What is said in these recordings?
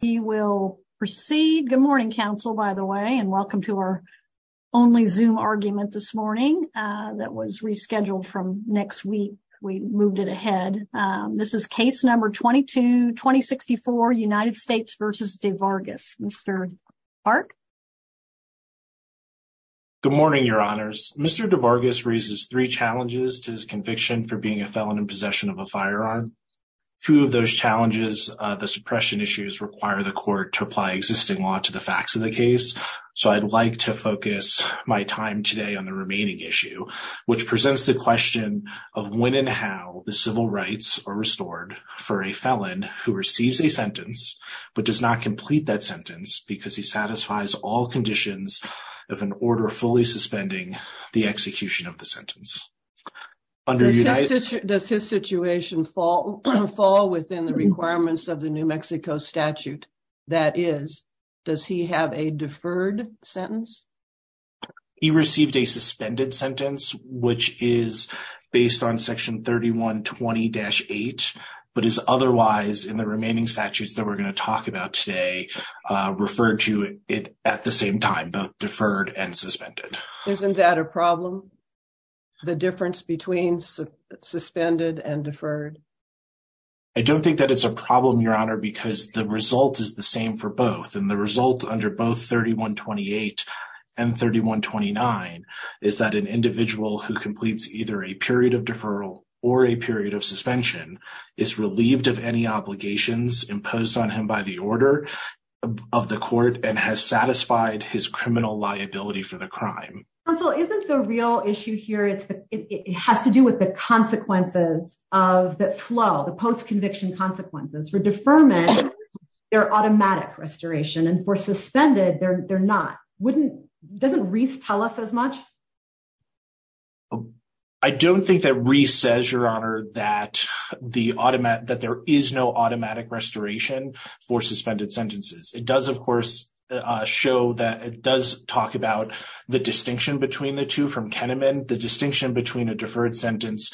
He will proceed. Good morning, Council, by the way, and welcome to our only Zoom argument this morning that was rescheduled from next week. We moved it ahead. This is case number 22, 2064, United States v. Devargas. Mr. Clark. Good morning, your honors. Mr. Devargas raises three challenges to his conviction for being a felon in possession of a firearm. Two of those challenges, the suppression issues, require the court to apply existing law to the facts of the case. So I'd like to focus my time today on the remaining issue, which presents the question of when and how the civil rights are restored for a felon who receives a sentence, but does not complete that sentence, because he satisfies the court's requirements. All conditions of an order fully suspending the execution of the sentence. Does his situation fall within the requirements of the New Mexico statute? That is, does he have a deferred sentence? He received a suspended sentence, which is based on section 3120-8, but is otherwise in the remaining statutes that we're going to talk about today, referred to it at the same time, both deferred and suspended. Isn't that a problem? The difference between suspended and deferred? I don't think that it's a problem, your honor, because the result is the same for both. And the result under both 3128 and 3129 is that an individual who completes either a period of deferral or a period of suspension is relieved of any obligations imposed on him by the order of the court and has satisfied his criminal liability for the crime. Counsel, isn't the real issue here, it has to do with the consequences of the flow, the post-conviction consequences. For deferment, they're automatic restoration, and for suspended, they're not. Doesn't Reese tell us as much? I don't think that Reese says, your honor, that there is no automatic restoration for suspended sentences. It does, of course, show that it does talk about the distinction between the two from Kenneman. The distinction between a deferred sentence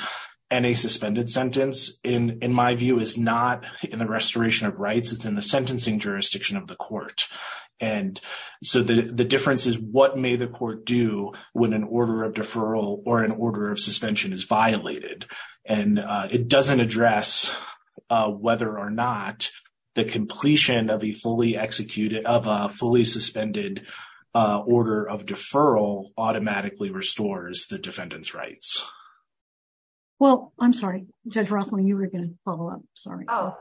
and a suspended sentence, in my view, is not in the restoration of rights. It's in the sentencing jurisdiction of the court. And so the difference is, what may the court do when an order of deferral or an order of suspension is violated? And it doesn't address whether or not the completion of a fully executed, of a fully suspended order of deferral automatically restores the defendant's rights. Well, I'm sorry, Judge Rothman, you were going to follow up. Sorry. Oh,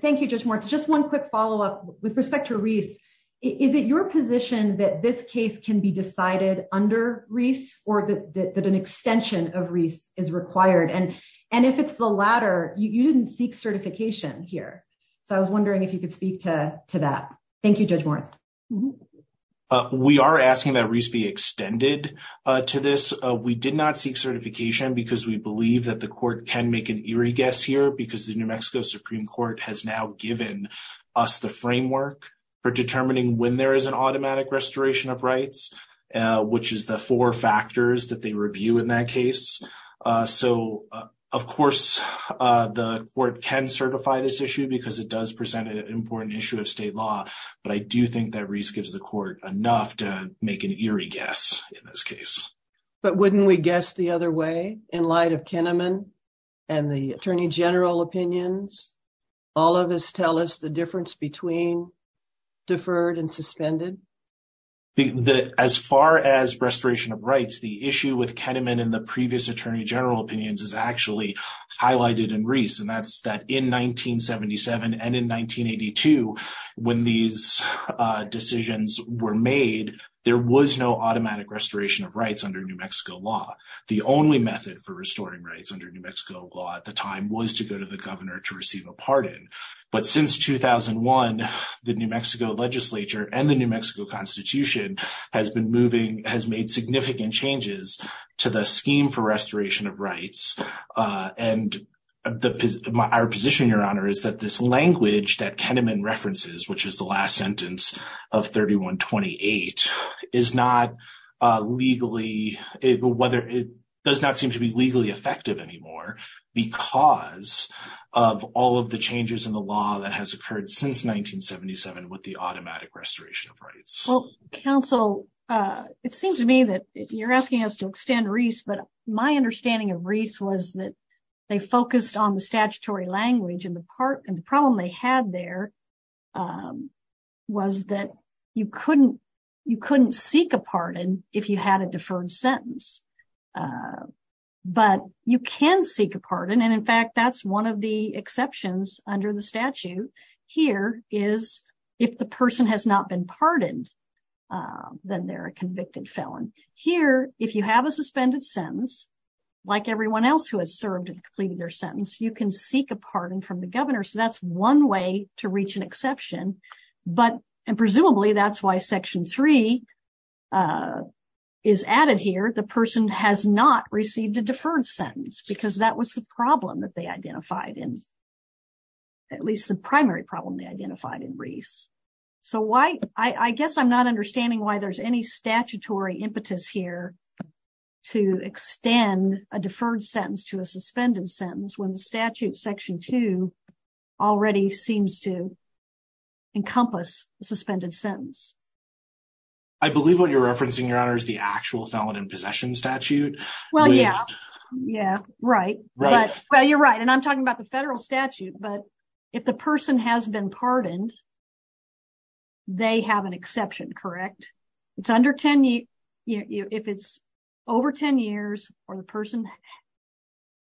thank you, Judge Moritz. Just one quick follow-up with respect to Reese. Is it your position that this case can be decided under Reese or that an extension of Reese is required? And if it's the latter, you didn't seek certification here. So I was wondering if you could speak to that. Thank you, Judge Moritz. We are asking that Reese be extended to this. We did not seek certification because we believe that the court can make an eerie guess here because the New Mexico Supreme Court has now given us the framework for determining when there is an automatic restoration of rights, which is the four factors that they review in that case. So, of course, the court can certify this issue because it does present an important issue of state law. But I do think that Reese gives the court enough to make an eerie guess in this case. But wouldn't we guess the other way in light of Kenneman and the Attorney General opinions? All of us tell us the difference between deferred and suspended. As far as restoration of rights, the issue with Kenneman and the previous Attorney General opinions is actually highlighted in Reese. And that's that in 1977 and in 1982, when these decisions were made, there was no automatic restoration of rights under New Mexico law. The only method for restoring rights under New Mexico law at the time was to go to the governor to receive a pardon. But since 2001, the New Mexico legislature and the New Mexico Constitution has been moving, has made significant changes to the scheme for restoration of rights. And our position, Your Honor, is that this language that Kenneman references, which is the last sentence of 3128, is not legally, whether it does not seem to be legally effective anymore because of all of the changes in the law that has occurred since 1977 with the automatic restoration of rights. Well, counsel, it seems to me that you're asking us to extend Reese, but my understanding of Reese was that they focused on the statutory language and the part and the problem they had there was that you couldn't, you couldn't seek a pardon if you had a deferred sentence. But you can seek a pardon. And in fact, that's one of the exceptions under the statute here is if the person has not been pardoned, then they're a convicted felon. Here, if you have a suspended sentence, like everyone else who has served and completed their sentence, you can seek a pardon from the governor. So that's one way to reach an exception. But presumably that's why Section 3 is added here. The person has not received a deferred sentence because that was the problem that they identified in, at least the primary problem they identified in Reese. So why, I guess I'm not understanding why there's any statutory impetus here to extend a deferred sentence to a suspended sentence when the statute Section 2 already seems to encompass a suspended sentence. I believe what you're referencing your honor is the actual felon in possession statute. Well, yeah, yeah, right. Well, you're right and I'm talking about the federal statute, but if the person has been pardoned, they have an exception, correct. It's under 10 years, if it's over 10 years, or the person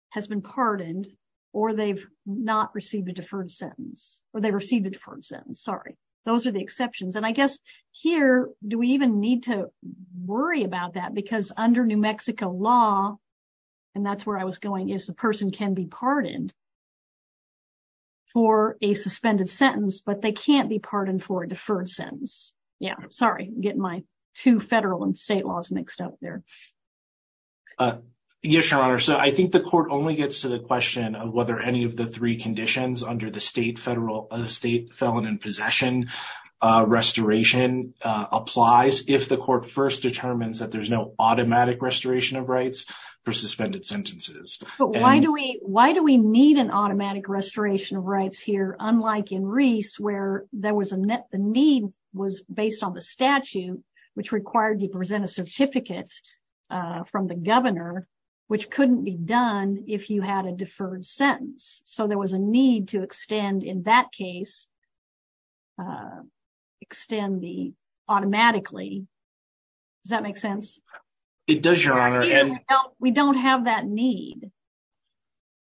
has been pardoned, or they've not received a deferred sentence, or they received a deferred sentence, sorry. Those are the exceptions. And I guess here, do we even need to worry about that? Because under New Mexico law, and that's where I was going, is the person can be pardoned for a suspended sentence, but they can't be pardoned for a deferred sentence. Yeah, sorry, getting my two federal and state laws mixed up there. Yes, your honor. So I think the court only gets to the question of whether any of the three conditions under the state federal state felon in possession restoration applies if the court first determines that there's no automatic restoration of rights for suspended sentences. But why do we, why do we need an automatic restoration of rights here, unlike in Reese where there was a net the need was based on the statute, which required you present a certificate from the governor, which couldn't be done if you had a deferred sentence, so there was a need to extend in that case, extend the automatically. Does that make sense? It does, your honor, and we don't have that need.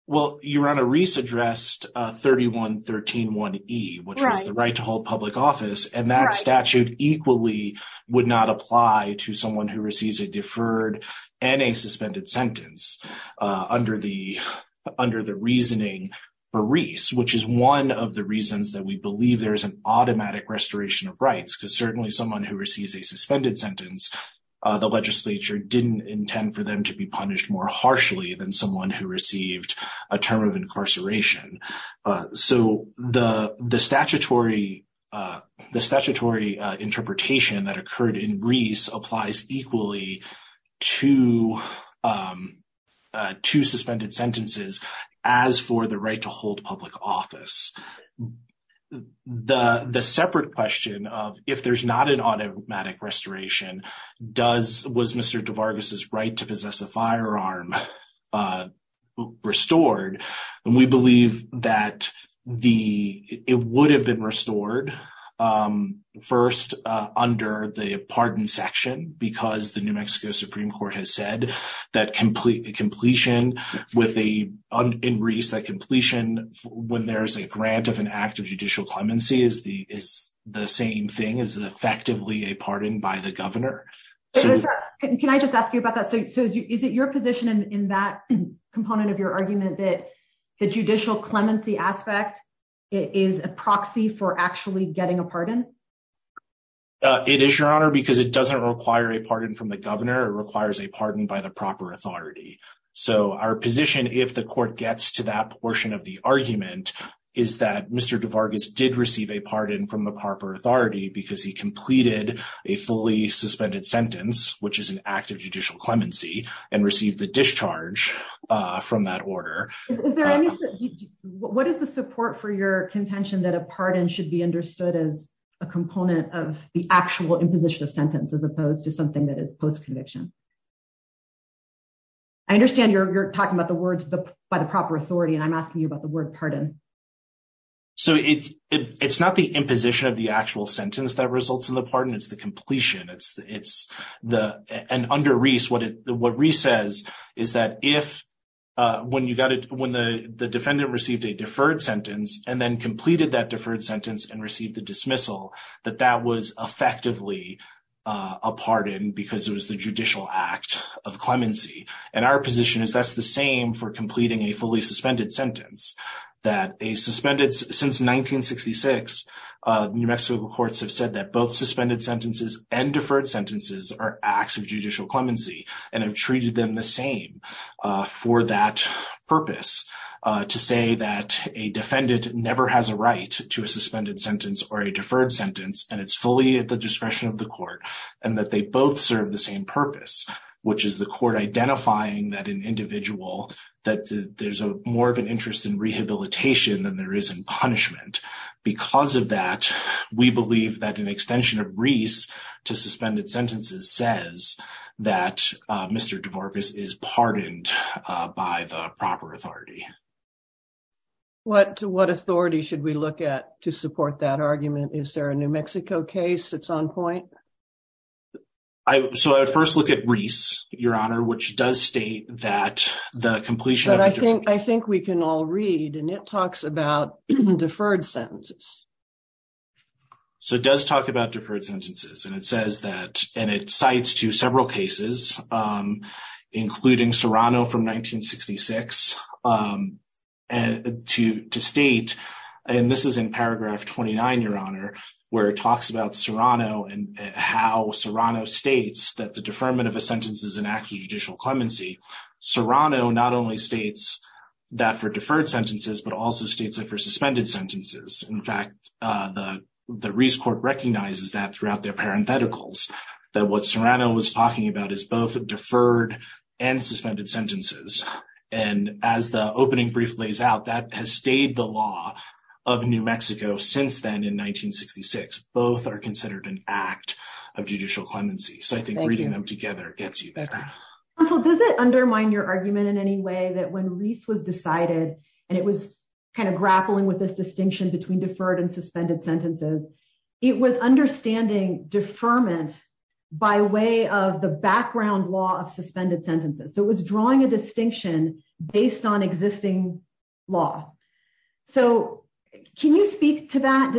Well, your honor, Reese addressed 3113-1E, which was the right to hold public office, and that statute equally would not apply to someone who receives a deferred and a suspended sentence under the reasoning for Reese, which is one of the reasons that we believe there is an automatic restoration of rights. Because certainly someone who receives a suspended sentence, the legislature didn't intend for them to be punished more harshly than someone who received a term of incarceration. So the statutory interpretation that occurred in Reese applies equally to suspended sentences as for the right to hold public office. The separate question of if there's not an automatic restoration, was Mr. DeVargas' right to possess a firearm restored? And we believe that it would have been restored first under the pardon section, because the New Mexico Supreme Court has said that completion in Reese, that completion when there's a grant of an act of judicial clemency is the same thing, is effectively a pardon by the governor. Can I just ask you about that? So is it your position in that component of your argument that the judicial clemency aspect is a proxy for actually getting a pardon? It is, your honor, because it doesn't require a pardon from the governor. It requires a pardon by the proper authority. So our position, if the court gets to that portion of the argument, is that Mr. DeVargas did receive a pardon from the proper authority because he completed a fully suspended sentence, which is an act of judicial clemency, and received the discharge from that order. What is the support for your contention that a pardon should be understood as a component of the actual imposition of sentence as opposed to something that is post-conviction? I understand you're talking about the words by the proper authority, and I'm asking you about the word pardon. So it's not the imposition of the actual sentence that results in the pardon. It's the completion. And under Reese, what Reese says is that if when the defendant received a deferred sentence and then completed that deferred sentence and received the dismissal, that that was effectively a pardon because it was the judicial act of clemency. And our position is that's the same for completing a fully suspended sentence. Since 1966, New Mexico courts have said that both suspended sentences and deferred sentences are acts of judicial clemency and have treated them the same for that purpose, to say that a defendant never has a right to a suspended sentence or a deferred sentence. And it's fully at the discretion of the court and that they both serve the same purpose, which is the court identifying that an individual, that there's more of an interest in rehabilitation than there is in punishment. Because of that, we believe that an extension of Reese to suspended sentences says that Mr. DeVorkis is pardoned by the proper authority. What authority should we look at to support that argument? Is there a New Mexico case that's on point? So I would first look at Reese, Your Honor, which does state that the completion of a deferred sentence... But I think we can all read, and it talks about deferred sentences. So it does talk about deferred sentences. And it says that, and it cites to several cases, including Serrano from 1966, to state, and this is in paragraph 29, Your Honor, where it talks about Serrano and how Serrano states that the deferment of a sentence is an act of judicial clemency. Serrano not only states that for deferred sentences, but also states that for suspended sentences. In fact, the Reese court recognizes that throughout their parentheticals, that what Serrano was talking about is both deferred and suspended sentences. And as the opening brief lays out, that has stayed the law of New Mexico since then in 1966. Both are considered an act of judicial clemency. So I think reading them together gets you there. So does it undermine your argument in any way that when Reese was decided, and it was kind of grappling with this distinction between deferred and suspended sentences, it was understanding deferment by way of the background law of suspended sentences. So it was drawing a distinction based on existing law. So can you speak to that?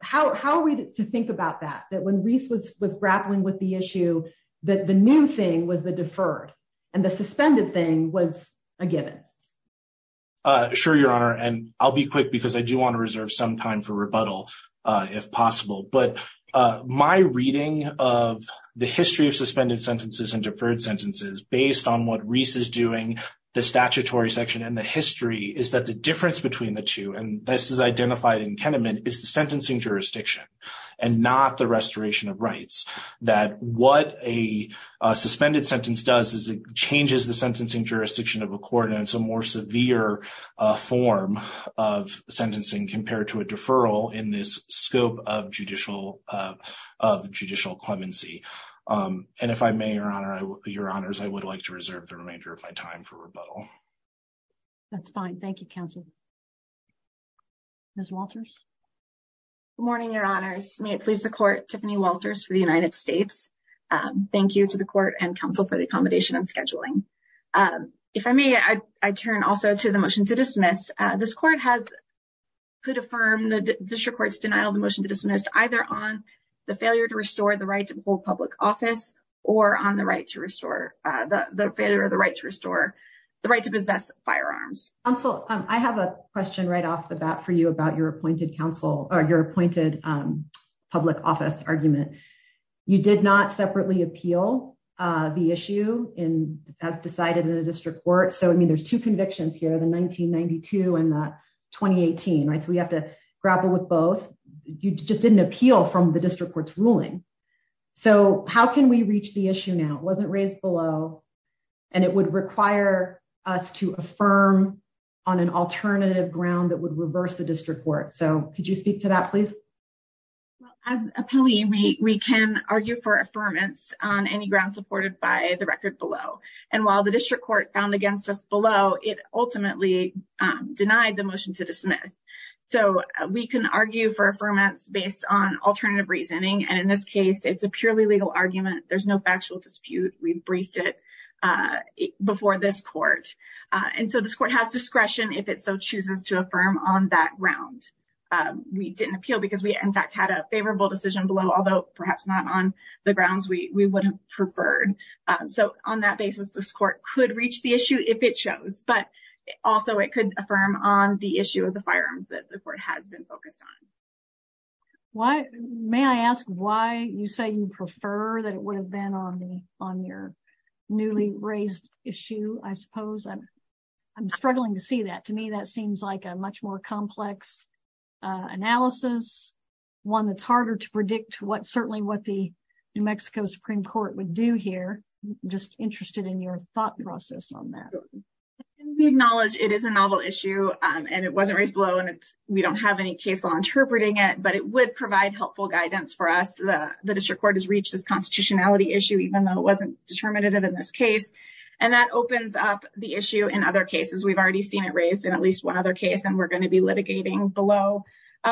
How are we to think about that, that when Reese was grappling with the issue, that the new thing was the deferred and the suspended thing was a given? Sure, Your Honor, and I'll be quick because I do want to reserve some time for rebuttal, if possible. But my reading of the history of suspended sentences and deferred sentences, based on what Reese is doing, the statutory section and the history, is that the difference between the two, and this is identified in Kenneman, is the sentencing jurisdiction and not the restoration of rights. That what a suspended sentence does is it changes the sentencing jurisdiction of a court and it's a more severe form of sentencing compared to a deferral in this scope of judicial clemency. And if I may, Your Honors, I would like to reserve the remainder of my time for rebuttal. That's fine. Thank you, counsel. Ms. Walters? Good morning, Your Honors. May it please the court, Tiffany Walters for the United States. Thank you to the court and counsel for the accommodation and scheduling. If I may, I turn also to the motion to dismiss. This court has could affirm the district court's denial of the motion to dismiss either on the failure to restore the right to hold public office or on the right to restore the failure of the right to restore the right to possess firearms. Counsel, I have a question right off the bat for you about your appointed public office argument. You did not separately appeal the issue as decided in the district court. So, I mean, there's two convictions here, the 1992 and the 2018, right? So we have to grapple with both. You just didn't appeal from the district court's ruling. So how can we reach the issue now? It wasn't raised below, and it would require us to affirm on an alternative ground that would reverse the district court. So could you speak to that, please? As a plea, we can argue for affirmance on any ground supported by the record below. And while the district court found against us below, it ultimately denied the motion to dismiss. So we can argue for affirmance based on alternative reasoning. And in this case, it's a purely legal argument. There's no factual dispute. We briefed it before this court. And so this court has discretion if it so chooses to affirm on that ground. We didn't appeal because we, in fact, had a favorable decision below, although perhaps not on the grounds we would have preferred. So on that basis, this court could reach the issue if it shows. But also, it could affirm on the issue of the firearms that the court has been focused on. May I ask why you say you prefer that it would have been on your newly raised issue, I suppose? I'm struggling to see that. To me, that seems like a much more complex analysis, one that's harder to predict what certainly what the New Mexico Supreme Court would do here. Just interested in your thought process on that. We acknowledge it is a novel issue and it wasn't raised below. And we don't have any case law interpreting it, but it would provide helpful guidance for us. The district court has reached this constitutionality issue, even though it wasn't determinative in this case. And that opens up the issue in other cases. We've already seen it raised in at least one other case. And we're going to be litigating below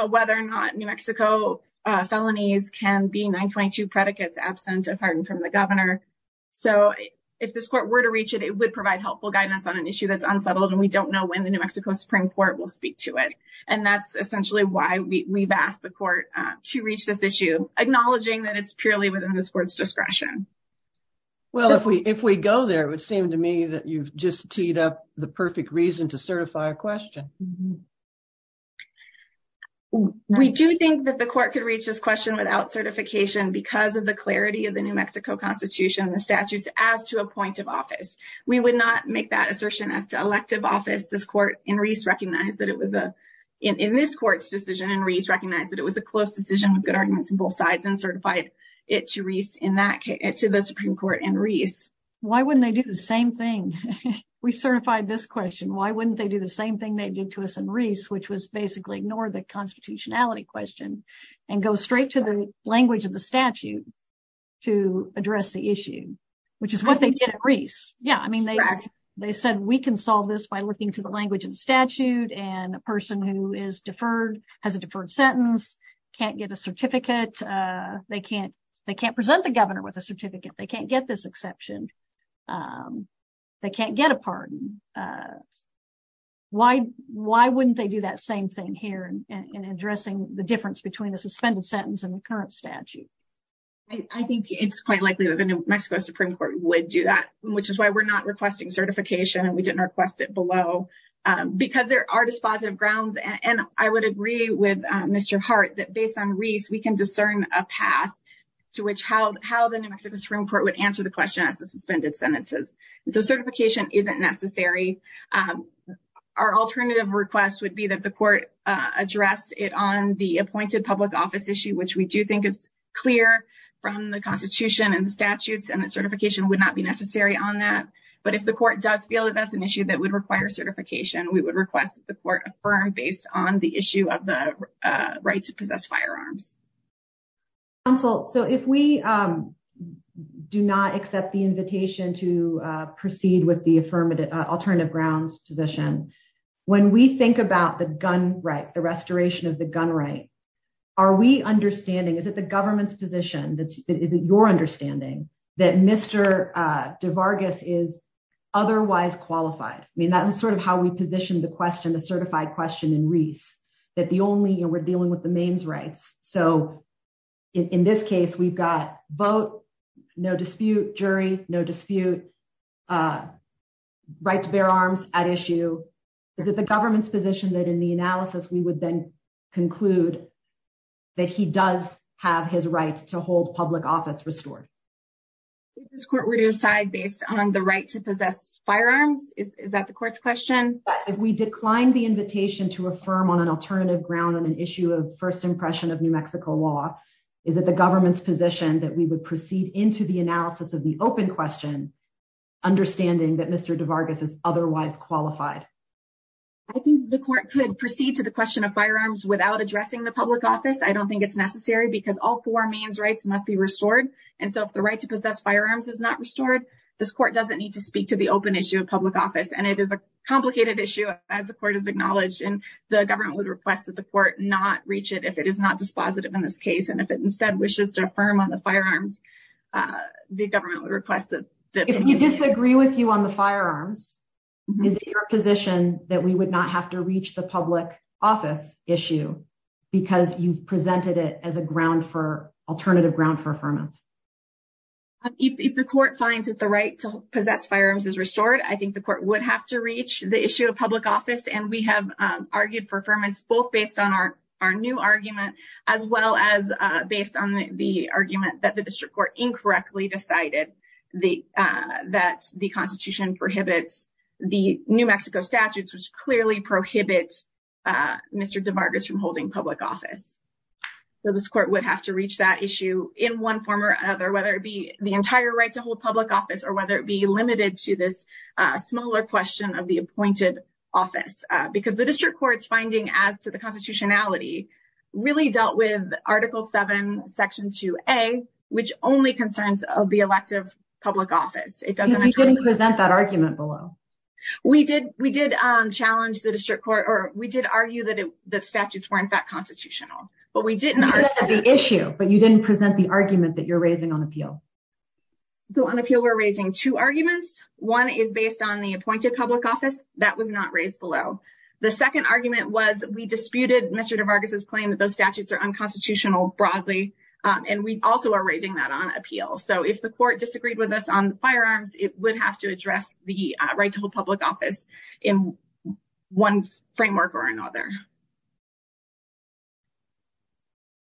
whether or not New Mexico felonies can be 922 predicates absent of pardon from the governor. So if this court were to reach it, it would provide helpful guidance on an issue that's unsettled. And we don't know when the New Mexico Supreme Court will speak to it. And that's essentially why we've asked the court to reach this issue, acknowledging that it's purely within this court's discretion. Well, if we if we go there, it would seem to me that you've just teed up the perfect reason to certify a question. We do think that the court could reach this question without certification because of the clarity of the New Mexico Constitution, the statutes as to a point of office. We would not make that assertion as to elective office. This court in Reese recognized that it was a in this court's decision. And Reese recognized that it was a close decision with good arguments on both sides and certified it to Reese in that case to the Supreme Court. And Reese, why wouldn't they do the same thing? We certified this question. Why wouldn't they do the same thing they did to us? And Reese, which was basically ignore the constitutionality question and go straight to the language of the statute to address the issue, which is what they did. They said we can solve this by looking to the language of the statute and a person who is deferred has a deferred sentence, can't get a certificate. They can't they can't present the governor with a certificate. They can't get this exception. They can't get a pardon. Why? Why wouldn't they do that same thing here and addressing the difference between a suspended sentence and the current statute? I think it's quite likely that the New Mexico Supreme Court would do that, which is why we're not requesting certification and we didn't request it below because there are dispositive grounds. And I would agree with Mr. Hart that based on Reese, we can discern a path to which how how the New Mexico Supreme Court would answer the question as a suspended sentences. So certification isn't necessary. Our alternative request would be that the court address it on the appointed public office issue, which we do think is clear from the Constitution and statutes and certification would not be necessary on that. But if the court does feel that that's an issue that would require certification, we would request the court affirm based on the issue of the right to possess firearms. So if we do not accept the invitation to proceed with the affirmative alternative grounds position, when we think about the gun right, the restoration of the gun right. Are we understanding is that the government's position that is your understanding that Mr. DeVargas is otherwise qualified? I mean, that was sort of how we positioned the question, the certified question in Reese, that the only we're dealing with the mains rights. So in this case, we've got vote, no dispute, jury, no dispute, right to bear arms at issue. Is it the government's position that in the analysis we would then conclude that he does have his right to hold public office restored? This court were to decide based on the right to possess firearms. Is that the court's question? If we declined the invitation to affirm on an alternative ground on an issue of first impression of New Mexico law, is that the government's position that we would proceed into the analysis of the open question? Understanding that Mr. DeVargas is otherwise qualified. I think the court could proceed to the question of firearms without addressing the public office. I don't think it's necessary because all four means rights must be restored. And so if the right to possess firearms is not restored, this court doesn't need to speak to the open issue of public office. And it is a complicated issue, as the court has acknowledged, and the government would request that the court not reach it if it is not dispositive in this case. And if it instead wishes to affirm on the firearms, the government would request that. If you disagree with you on the firearms, is it your position that we would not have to reach the public office issue because you've presented it as a ground for alternative ground for affirmance? If the court finds that the right to possess firearms is restored, I think the court would have to reach the issue of public office. And we have argued for affirmance, both based on our new argument, as well as based on the argument that the district court incorrectly decided that the Constitution prohibits the New Mexico statutes, which clearly prohibits Mr. DeVargas from holding public office. So this court would have to reach that issue in one form or another, whether it be the entire right to hold public office or whether it be limited to this smaller question of the appointed office. Because the district court's finding as to the constitutionality really dealt with Article 7, Section 2A, which only concerns the elective public office. Because you didn't present that argument below. We did. We did challenge the district court, or we did argue that the statutes were in fact constitutional, but we did not. You presented the issue, but you didn't present the argument that you're raising on appeal. So on appeal, we're raising two arguments. One is based on the appointed public office. That was not raised below. The second argument was we disputed Mr. DeVargas's claim that those statutes are unconstitutional broadly, and we also are raising that on appeal. So if the court disagreed with us on firearms, it would have to address the right to hold public office in one framework or another.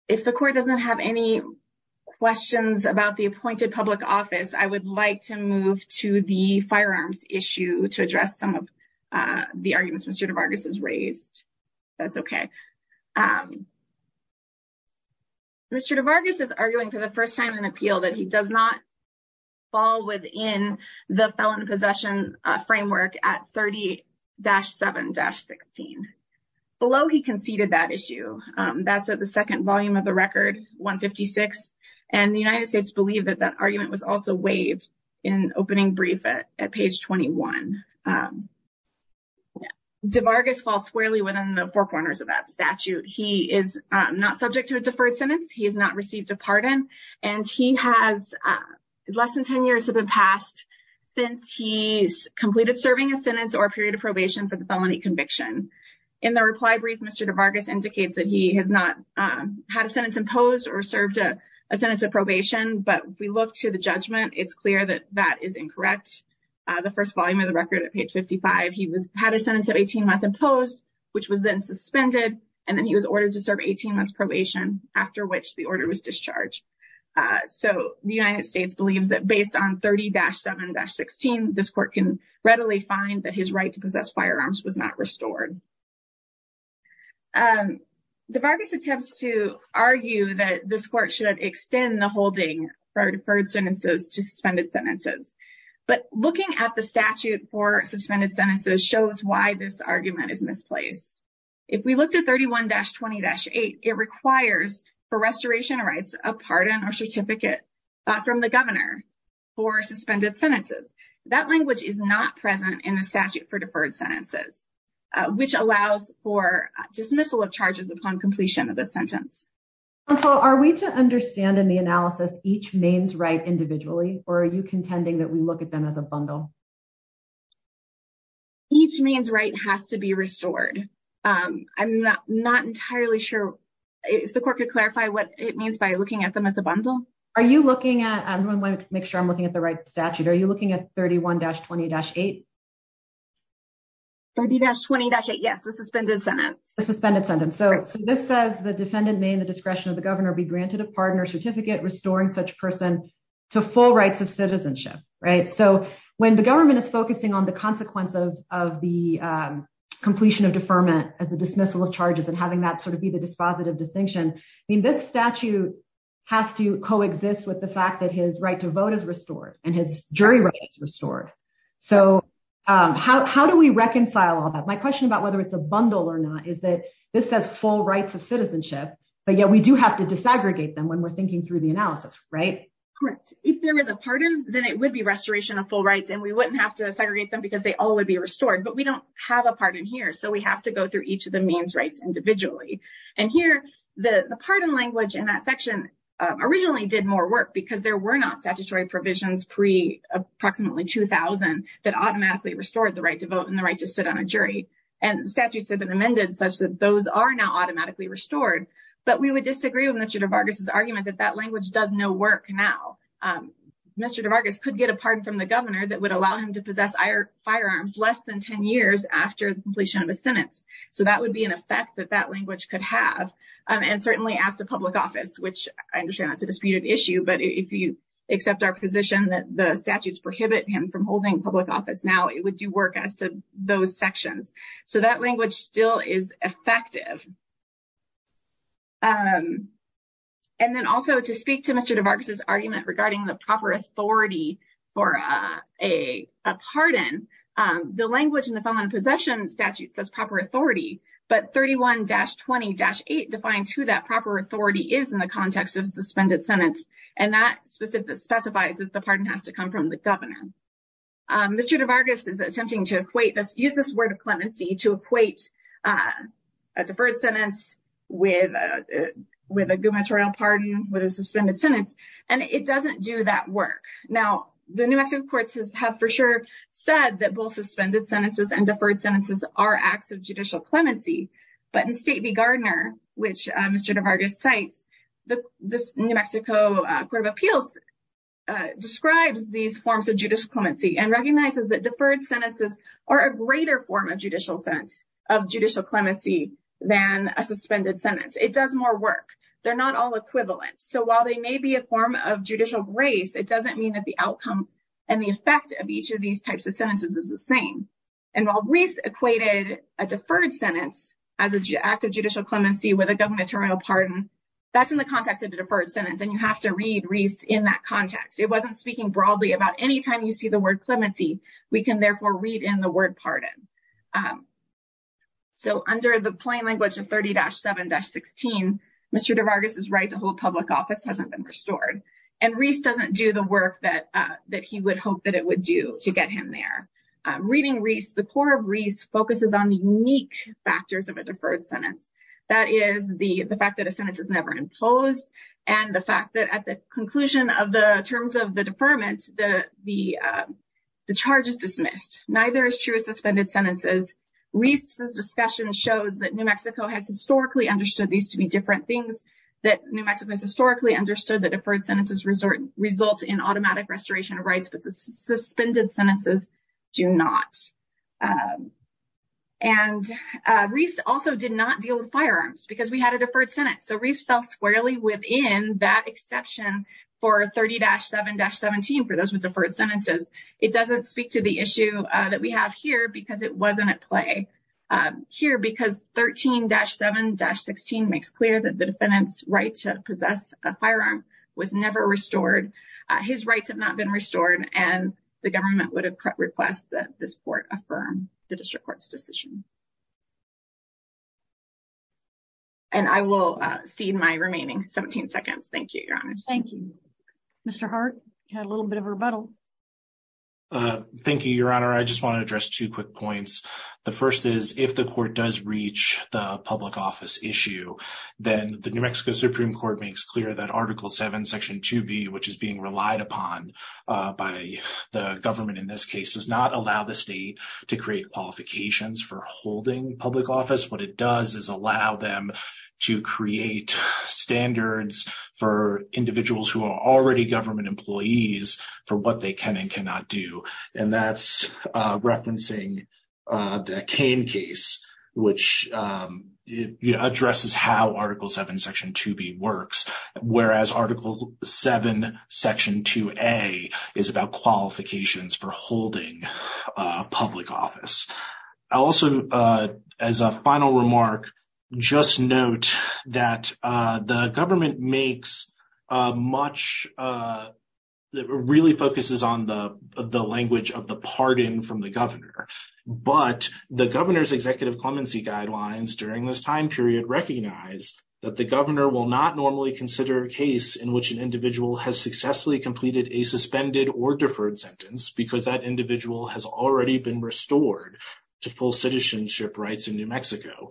If the court doesn't have any questions about the appointed public office, I would like to move to the firearms issue to address some of the arguments Mr. DeVargas has raised. That's okay. Mr. DeVargas is arguing for the first time in appeal that he does not fall within the felon possession framework at 30-7-16. Below, he conceded that issue. That's at the second volume of the record, 156. And the United States believed that that argument was also waived in opening brief at page 21. DeVargas falls squarely within the four corners of that statute. He is not subject to a deferred sentence. He has not received a pardon. And he has less than 10 years have passed since he's completed serving a sentence or a period of probation for the felony conviction. In the reply brief, Mr. DeVargas indicates that he has not had a sentence imposed or served a sentence of probation. But if we look to the judgment, it's clear that that is incorrect. The first volume of the record at page 55, he had a sentence of 18 months imposed, which was then suspended. And then he was ordered to serve 18 months probation, after which the order was discharged. So the United States believes that based on 30-7-16, this court can readily find that his right to possess firearms was not restored. DeVargas attempts to argue that this court should extend the holding for deferred sentences to suspended sentences. But looking at the statute for suspended sentences shows why this argument is misplaced. If we looked at 31-20-8, it requires for restoration of rights, a pardon or certificate from the governor for suspended sentences. That language is not present in the statute for deferred sentences, which allows for dismissal of charges upon completion of the sentence. Are we to understand in the analysis each Maine's right individually, or are you contending that we look at them as a bundle? Each Maine's right has to be restored. I'm not entirely sure if the court could clarify what it means by looking at them as a bundle. I want to make sure I'm looking at the right statute. Are you looking at 31-20-8? 30-20-8, yes, the suspended sentence. The suspended sentence. So this says the defendant may in the discretion of the governor be granted a pardon or certificate restoring such person to full rights of citizenship. So when the government is focusing on the consequence of the completion of deferment as a dismissal of charges and having that sort of be the dispositive distinction, this statute has to coexist with the fact that his right to vote is restored and his jury rights restored. So how do we reconcile all that? My question about whether it's a bundle or not is that this says full rights of citizenship, but yet we do have to disaggregate them when we're thinking through the analysis, right? Correct. If there is a pardon, then it would be restoration of full rights and we wouldn't have to segregate them because they all would be restored. But we don't have a pardon here. So we have to go through each of the Maine's rights individually. And here, the pardon language in that section originally did more work because there were not statutory provisions pre approximately 2000 that automatically restored the right to vote and the right to sit on a jury. And statutes have been amended such that those are now automatically restored. But we would disagree with Mr. DeVargas' argument that that language does no work now. Mr. DeVargas could get a pardon from the governor that would allow him to possess firearms less than 10 years after the completion of a sentence. So that would be an effect that that language could have. And certainly as the public office, which I understand it's a disputed issue. But if you accept our position that the statutes prohibit him from holding public office now, it would do work as to those sections. So that language still is effective. And then also to speak to Mr. DeVargas' argument regarding the proper authority for a pardon, the language in the felon possession statute says proper authority, but 31-20-8 defines who that proper authority is in the context of a suspended sentence. And that specifies that the pardon has to come from the governor. Mr. DeVargas is attempting to use this word of clemency to equate a deferred sentence with a gubernatorial pardon with a suspended sentence. And it doesn't do that work. Now, the New Mexico courts have for sure said that both suspended sentences and deferred sentences are acts of judicial clemency. But in State v. Gardner, which Mr. DeVargas cites, the New Mexico Court of Appeals describes these forms of judicial clemency and recognizes that deferred sentences are a greater form of judicial sentence, of judicial clemency than a suspended sentence. It does more work. They're not all equivalent. So while they may be a form of judicial grace, it doesn't mean that the outcome and the effect of each of these types of sentences is the same. And while Reese equated a deferred sentence as an act of judicial clemency with a gubernatorial pardon, that's in the context of the deferred sentence and you have to read Reese in that context. It wasn't speaking broadly about any time you see the word clemency, we can therefore read in the word pardon. So under the plain language of 30-7-16, Mr. DeVargas' right to hold public office hasn't been restored. And Reese doesn't do the work that he would hope that it would do to get him there. Reading Reese, the court of Reese focuses on the unique factors of a deferred sentence. That is the fact that a sentence is never imposed and the fact that at the conclusion of the terms of the deferment, the charge is dismissed. Neither is true of suspended sentences. Reese's discussion shows that New Mexico has historically understood these to be different things. That New Mexico has historically understood that deferred sentences result in automatic restoration of rights. But the suspended sentences do not. And Reese also did not deal with firearms because we had a deferred sentence. So Reese fell squarely within that exception for 30-7-17 for those with deferred sentences. It doesn't speak to the issue that we have here because it wasn't at play here. Because 13-7-16 makes clear that the defendant's right to possess a firearm was never restored. His rights have not been restored and the government would request that this court affirm the district court's decision. And I will cede my remaining 17 seconds. Thank you, Your Honor. Thank you. Mr. Hart, you had a little bit of a rebuttal. Thank you, Your Honor. I just want to address two quick points. The first is if the court does reach the public office issue, then the New Mexico Supreme Court makes clear that Article 7, Section 2B, which is being relied upon by the government in this case, does not allow the state to create qualifications for holding public office. What it does is allow them to create standards for individuals who are already government employees for what they can and cannot do. And that's referencing the Cain case, which addresses how Article 7, Section 2B works, whereas Article 7, Section 2A is about qualifications for holding public office. I'll also, as a final remark, just note that the government makes much that really focuses on the language of the pardon from the governor. But the governor's executive clemency guidelines during this time period recognize that the governor will not normally consider a case in which an individual has successfully completed a suspended or deferred sentence because that individual has already been restored to full citizenship rights in New Mexico.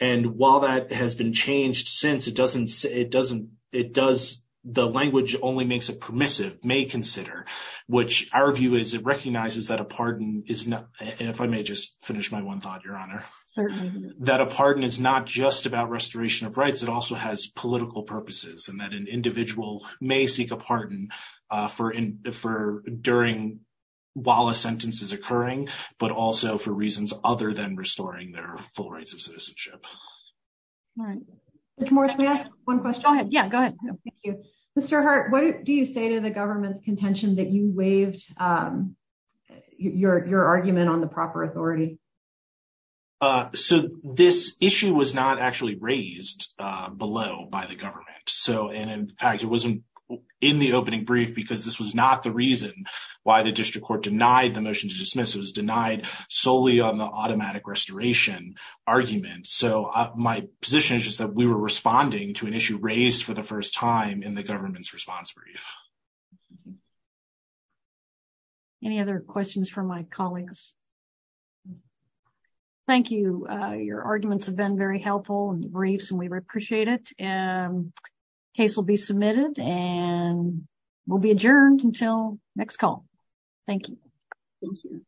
And while that has been changed since, it doesn't, it doesn't, it does, the language only makes it permissive, may consider, which our view is it recognizes that a pardon is not, if I may just finish my one thought, Your Honor. Certainly. That a pardon is not just about restoration of rights, it also has political purposes and that an individual may seek a pardon for during, while a sentence is occurring, but also for reasons other than restoring their full rights of citizenship. All right. Mr. Morris, can I ask one question? Yeah, go ahead. Thank you. Mr. Hart, what do you say to the government's contention that you waived your argument on the proper authority? So this issue was not actually raised below by the government. So, and in fact, it wasn't in the opening brief because this was not the reason why the district court denied the motion to dismiss. It was denied solely on the automatic restoration argument. So, my position is just that we were responding to an issue raised for the first time in the government's response brief. Any other questions from my colleagues? Thank you. Your arguments have been very helpful and briefs and we appreciate it and case will be submitted and will be adjourned until next call. Thank you. Thank you.